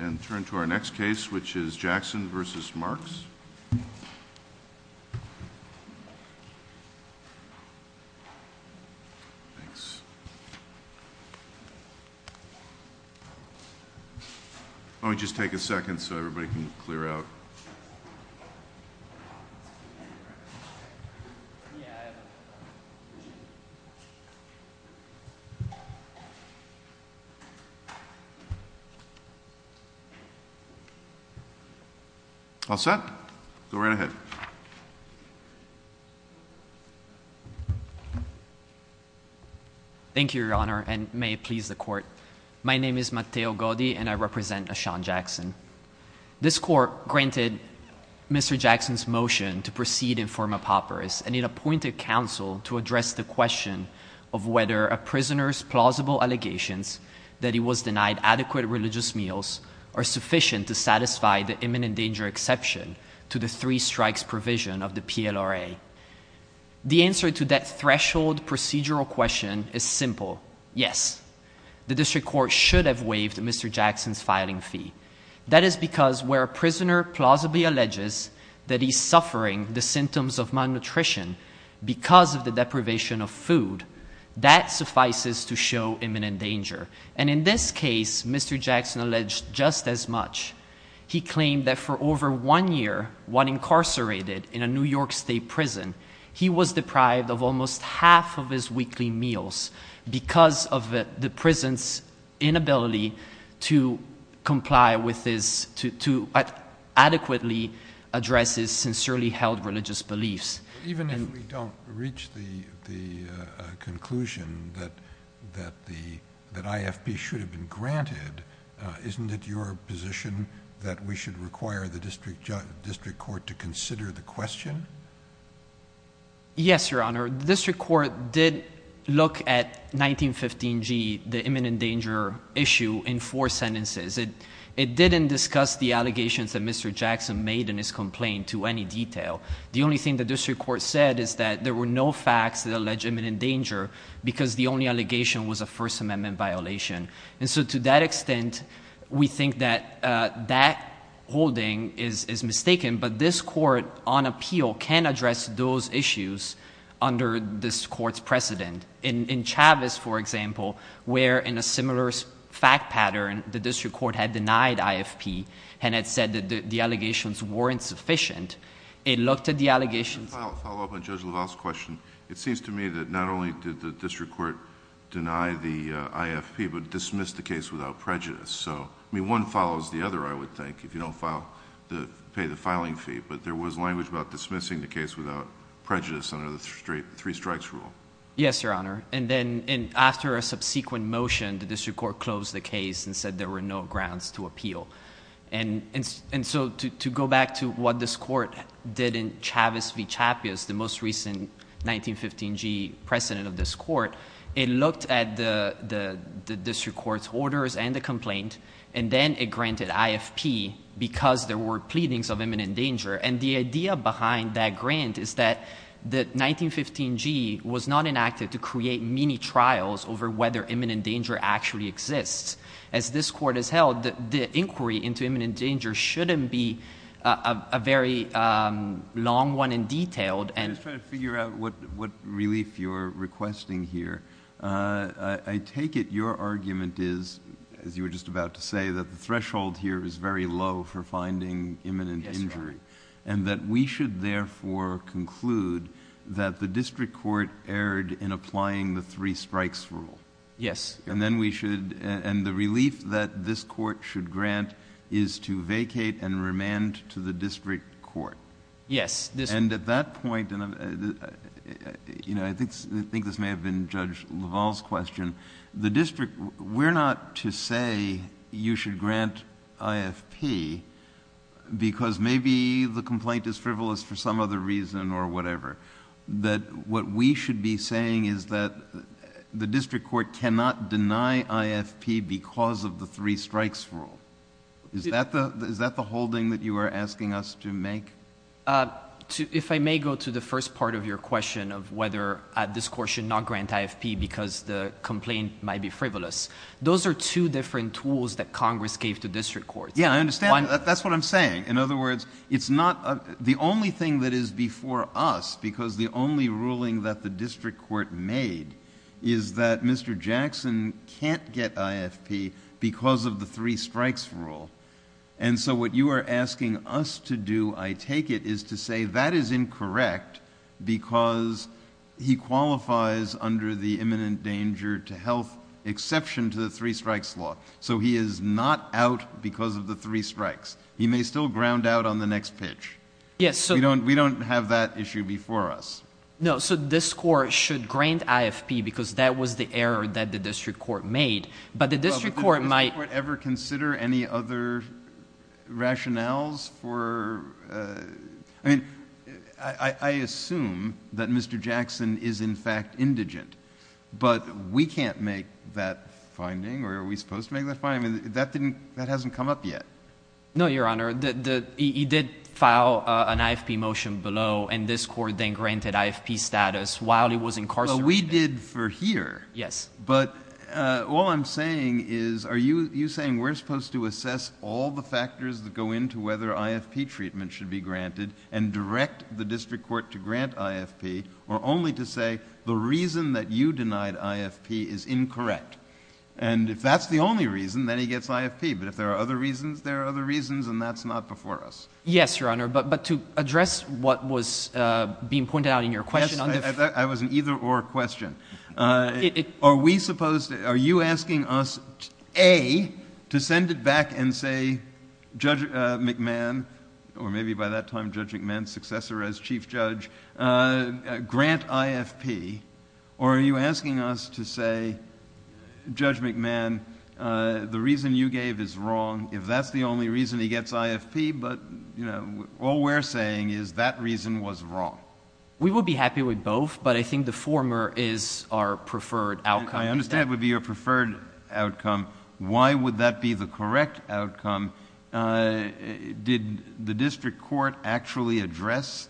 And turn to our next case, which is Jackson v. Marks. Let me just take a second so everybody can clear out. Thank you, Your Honor, and may it please the Court. My name is Matteo Godi, and I represent Ashan Jackson. This Court granted Mr. Jackson's motion to proceed in form of papyrus, and it appointed counsel to address the question of whether a prisoner's plausible allegations that he are suffering the symptoms of malnutrition because of the deprivation of food, that suffices to show imminent danger. In this case, Mr. Jackson alleged just as much. He claimed that for over one year, while incarcerated in a New York State prison, he was deprived of almost half of his weekly meals because of the prison's inability to adequately address his sincerely held religious beliefs. Even if we don't reach the conclusion that IFP should have been granted, isn't it your position that we should require the district court to consider the question? Yes, Your Honor. The district court did look at 1915G, the imminent danger issue, in four sentences. It didn't discuss the allegations that Mr. Jackson made in his complaint to any detail. The only thing the district court said is that there were no facts that allege imminent danger because the only allegation was a First Amendment violation. To that extent, we think that that holding is mistaken, but this court on appeal can address those issues under this court's precedent. In Chavez, for example, where in a similar fact pattern, the district court had denied IFP and had said that the allegations weren't sufficient, it looked at the allegations... To follow up on Judge LaValle's question, it seems to me that not only did the district court deny the IFP, but dismiss the case without prejudice. One follows the other, I would think, if you don't pay the filing fee, but there was language about dismissing the case without prejudice under the three strikes rule. Yes, Your Honor. After a subsequent motion, the district court closed the case and said there were no grounds to appeal. To go back to what this court did in Chavez v. Chavez, the most recent 1915G precedent of this court, it looked at the district court's orders and the complaint, and then it granted IFP because there were pleadings of imminent danger. The idea behind that grant is that the 1915G was not enacted to create mini-trials over whether imminent danger actually exists. As this court has held, the inquiry into imminent danger shouldn't be a very long one and detailed. I'm just trying to figure out what relief you're requesting here. I take it your argument is, as you were just about to say, that the threshold here is very low for finding imminent injury, and that we should therefore conclude that the district court erred in applying the three strikes rule. Yes. And then we should, and the relief that this court should grant is to vacate and remand to the district court. Yes. And at that point, and I think this may have been Judge LaValle's question, the district, we're not to say you should grant IFP because maybe the complaint is frivolous for some other reason or whatever. What we should be saying is that the district court cannot deny IFP because of the three strikes rule. Is that the holding that you are asking us to make? If I may go to the first part of your question of whether this court should not grant IFP because the complaint might be frivolous, those are two different tools that Congress gave to district courts. Yeah, I understand. That's what I'm saying. In other words, it's not, the only thing that is before us, because the only ruling that the district court made, is that Mr. Jackson can't get IFP because of the three strikes rule. And so what you are asking us to do, I take it, is to say that is incorrect because he qualifies under the imminent danger to the three strikes. He may still ground out on the next pitch. We don't have that issue before us. No, so this court should grant IFP because that was the error that the district court made, but the district court might Does the district court ever consider any other rationales for, I mean, I assume that Mr. Jackson is in fact indigent, but we can't make that finding, or are we supposed to make that finding? That hasn't come up yet. No, Your Honor. He did file an IFP motion below, and this court then granted IFP status while he was incarcerated. Well, we did for here, but all I'm saying is, are you saying we're supposed to assess all the factors that go into whether IFP treatment should be granted and direct the district court to grant IFP, or only to say the reason that you denied IFP is incorrect? And if that's the only reason, then he gets IFP, but if there are other reasons, there are other reasons, and that's not before us. Yes, Your Honor, but to address what was being pointed out in your question on the Yes, I was an either-or question. Are we supposed to, are you asking us, A, to send it back and say, Judge McMahon, or maybe by that time Judge McMahon's successor as chief judge, grant IFP, or are you asking us to say, Judge McMahon, the reason you gave is wrong, if that's the only reason he gets IFP, but all we're saying is that reason was wrong? We would be happy with both, but I think the former is our preferred outcome. I understand it would be your preferred outcome. Why would that be the correct outcome? Did the district court actually address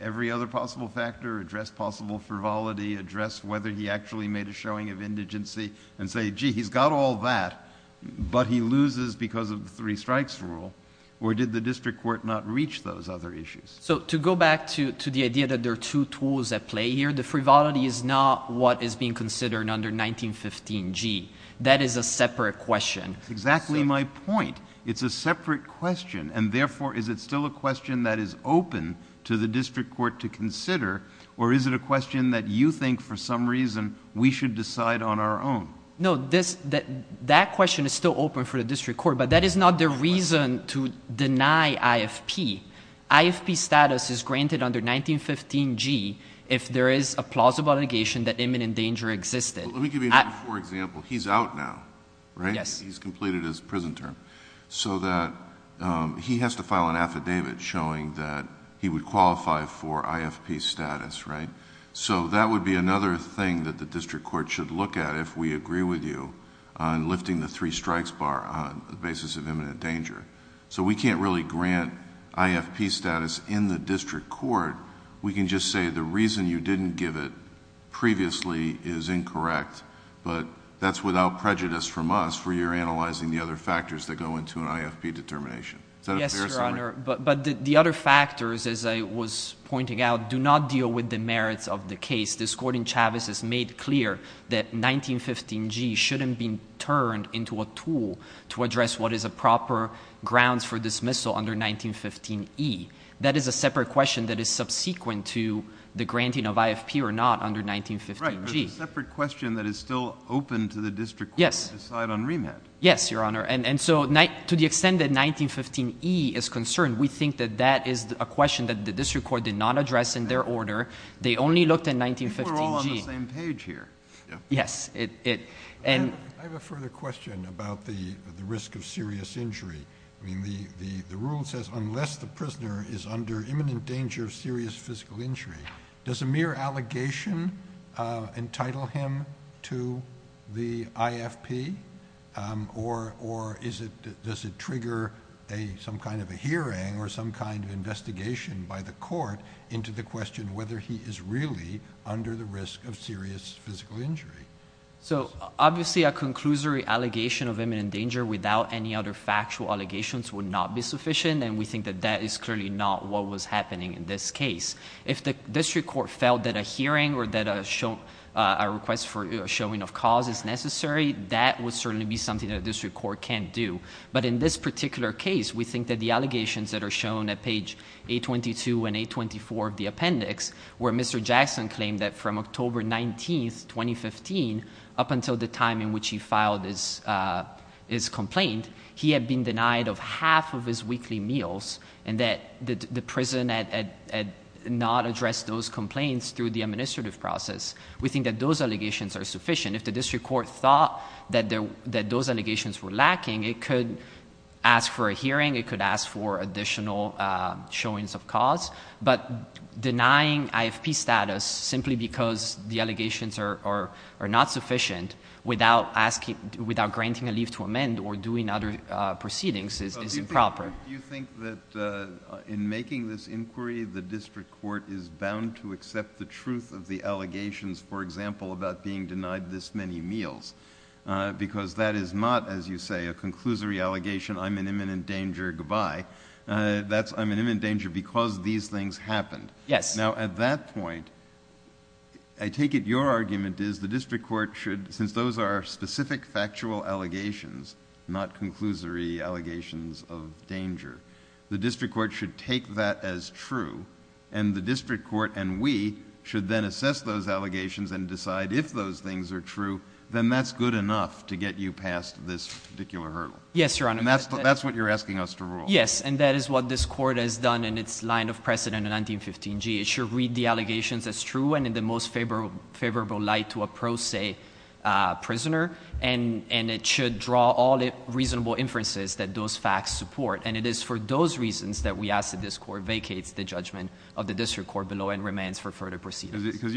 every other possible factor, address possible frivolity, address whether he actually made a showing of indigency, and say, gee, he's got all that, but he loses because of the three strikes rule, or did the district court not reach those other issues? So to go back to the idea that there are two tools at play here, the frivolity is not what is being considered under 1915G. That is a separate question. That's exactly my point. It's a separate question, and therefore, is it still a question that is open to the district court to consider, or is it a question that you think for some reason we should decide on our own? No, that question is still open for the district court, but that is not the reason to deny IFP. IFP status is granted under 1915G if there is a plausible allegation that imminent danger existed. Let me give you another example. He's out now. He's completed his prison term. He has to file an affidavit showing that he would qualify for IFP status. That would be another thing that the district court should look at if we agree with you on lifting the three strikes bar on the basis of imminent danger. We can't really grant IFP status in the district court. We can just say the reason you didn't give it previously is incorrect, but that's without prejudice from us, for you're analyzing the other factors that go into an IFP determination. Yes, Your Honor, but the other factors, as I was pointing out, do not deal with the merits of the case. This Court in Chavez has made clear that 1915G shouldn't be turned into a tool to address what is a proper grounds for dismissal under 1915E. That is a separate question that is subsequent to the granting of IFP or not under 1915G. Right, but it's a separate question that is still open to the district court to decide on remand. Yes, Your Honor, and so to the extent that 1915E is concerned, we think that that is a question that the district court did not address in their order. They only looked at 1915G. I think we're all on the same page here. Yes, it, and I have a further question about the risk of serious injury. I mean, the rule says unless the prisoner is under imminent danger of serious physical injury, does a mere allegation entitle him to the IFP, or does it trigger some kind of a hearing or some kind of investigation by the court into the question whether he is really under the risk of serious physical injury? So obviously a conclusory allegation of imminent danger without any other factual allegations would not be sufficient, and we think that that is clearly not what was happening in this case. If the district court felt that a hearing or that a request for a showing of cause is necessary, that would certainly be something that a district court can't do. But in this particular case, we think that the allegations that are shown at page 822 and 824 of the appendix, where Mr. Jackson claimed that from October 19th, 2015, up until the time in which he filed his complaint, he had been denied of half of his weekly meals, and that the prison had not addressed those complaints through the administrative process. We think that those allegations are sufficient. If the district court thought that those allegations were lacking, it could ask for a hearing, it could ask for additional showings of cause. But denying IFP status simply because the allegations are not sufficient without granting a leave to amend or doing other proceedings is improper. So do you think that in making this inquiry, the district court is bound to accept the truth of the allegations, for example, about being denied this many meals? Because that is not, as you say, a conclusory allegation, I'm in imminent danger, goodbye. That's I'm in imminent danger because these things happened. Yes. Now at that point, I take it your argument is the district court should, since those are specific factual allegations, not conclusory allegations of danger, the district court should take that as true, and the district court and we should then assess those allegations and decide if those things are true, then that's good enough to get you past this particular hurdle. Yes, Your Honor. That's what you're asking us to rule. Yes, and that is what this Court has done in its line of precedent in 1915g. It should read the allegations as true and in the most favorable light to a pro se prisoner, and it should draw all reasonable inferences that those facts support. And it is for those reasons that we ask that this Court vacates the judgment of the district court below and remains for further proceedings. Because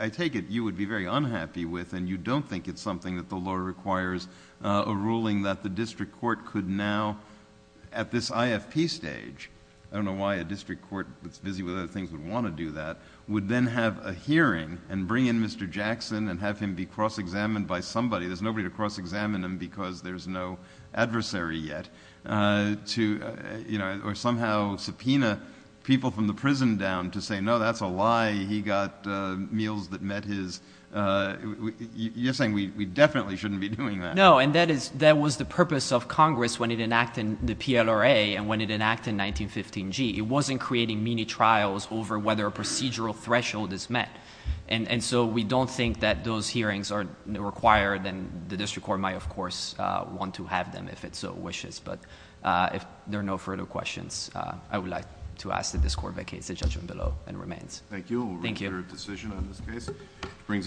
I take it you would be very unhappy with, and you don't think it's something that the law requires, a ruling that the district court could now, at this IFP stage, I don't know why a district court that's busy with other things would want to do that, would then have a hearing and bring in Mr. Jackson and have him be cross-examined by somebody. There's nobody to cross-examine him because there's no adversary yet, or somehow subpoena people from the prison down to say, no, that's a lie. He got meals that met his... You're definitely shouldn't be doing that. No, and that was the purpose of Congress when it enacted the PLRA and when it enacted 1915g. It wasn't creating mini-trials over whether a procedural threshold is met. And so we don't think that those hearings are required, and the district court might, of course, want to have them if it so wishes. But if there are no further questions, I would like to ask that this Court vacates the judgment below and remains. Thank you.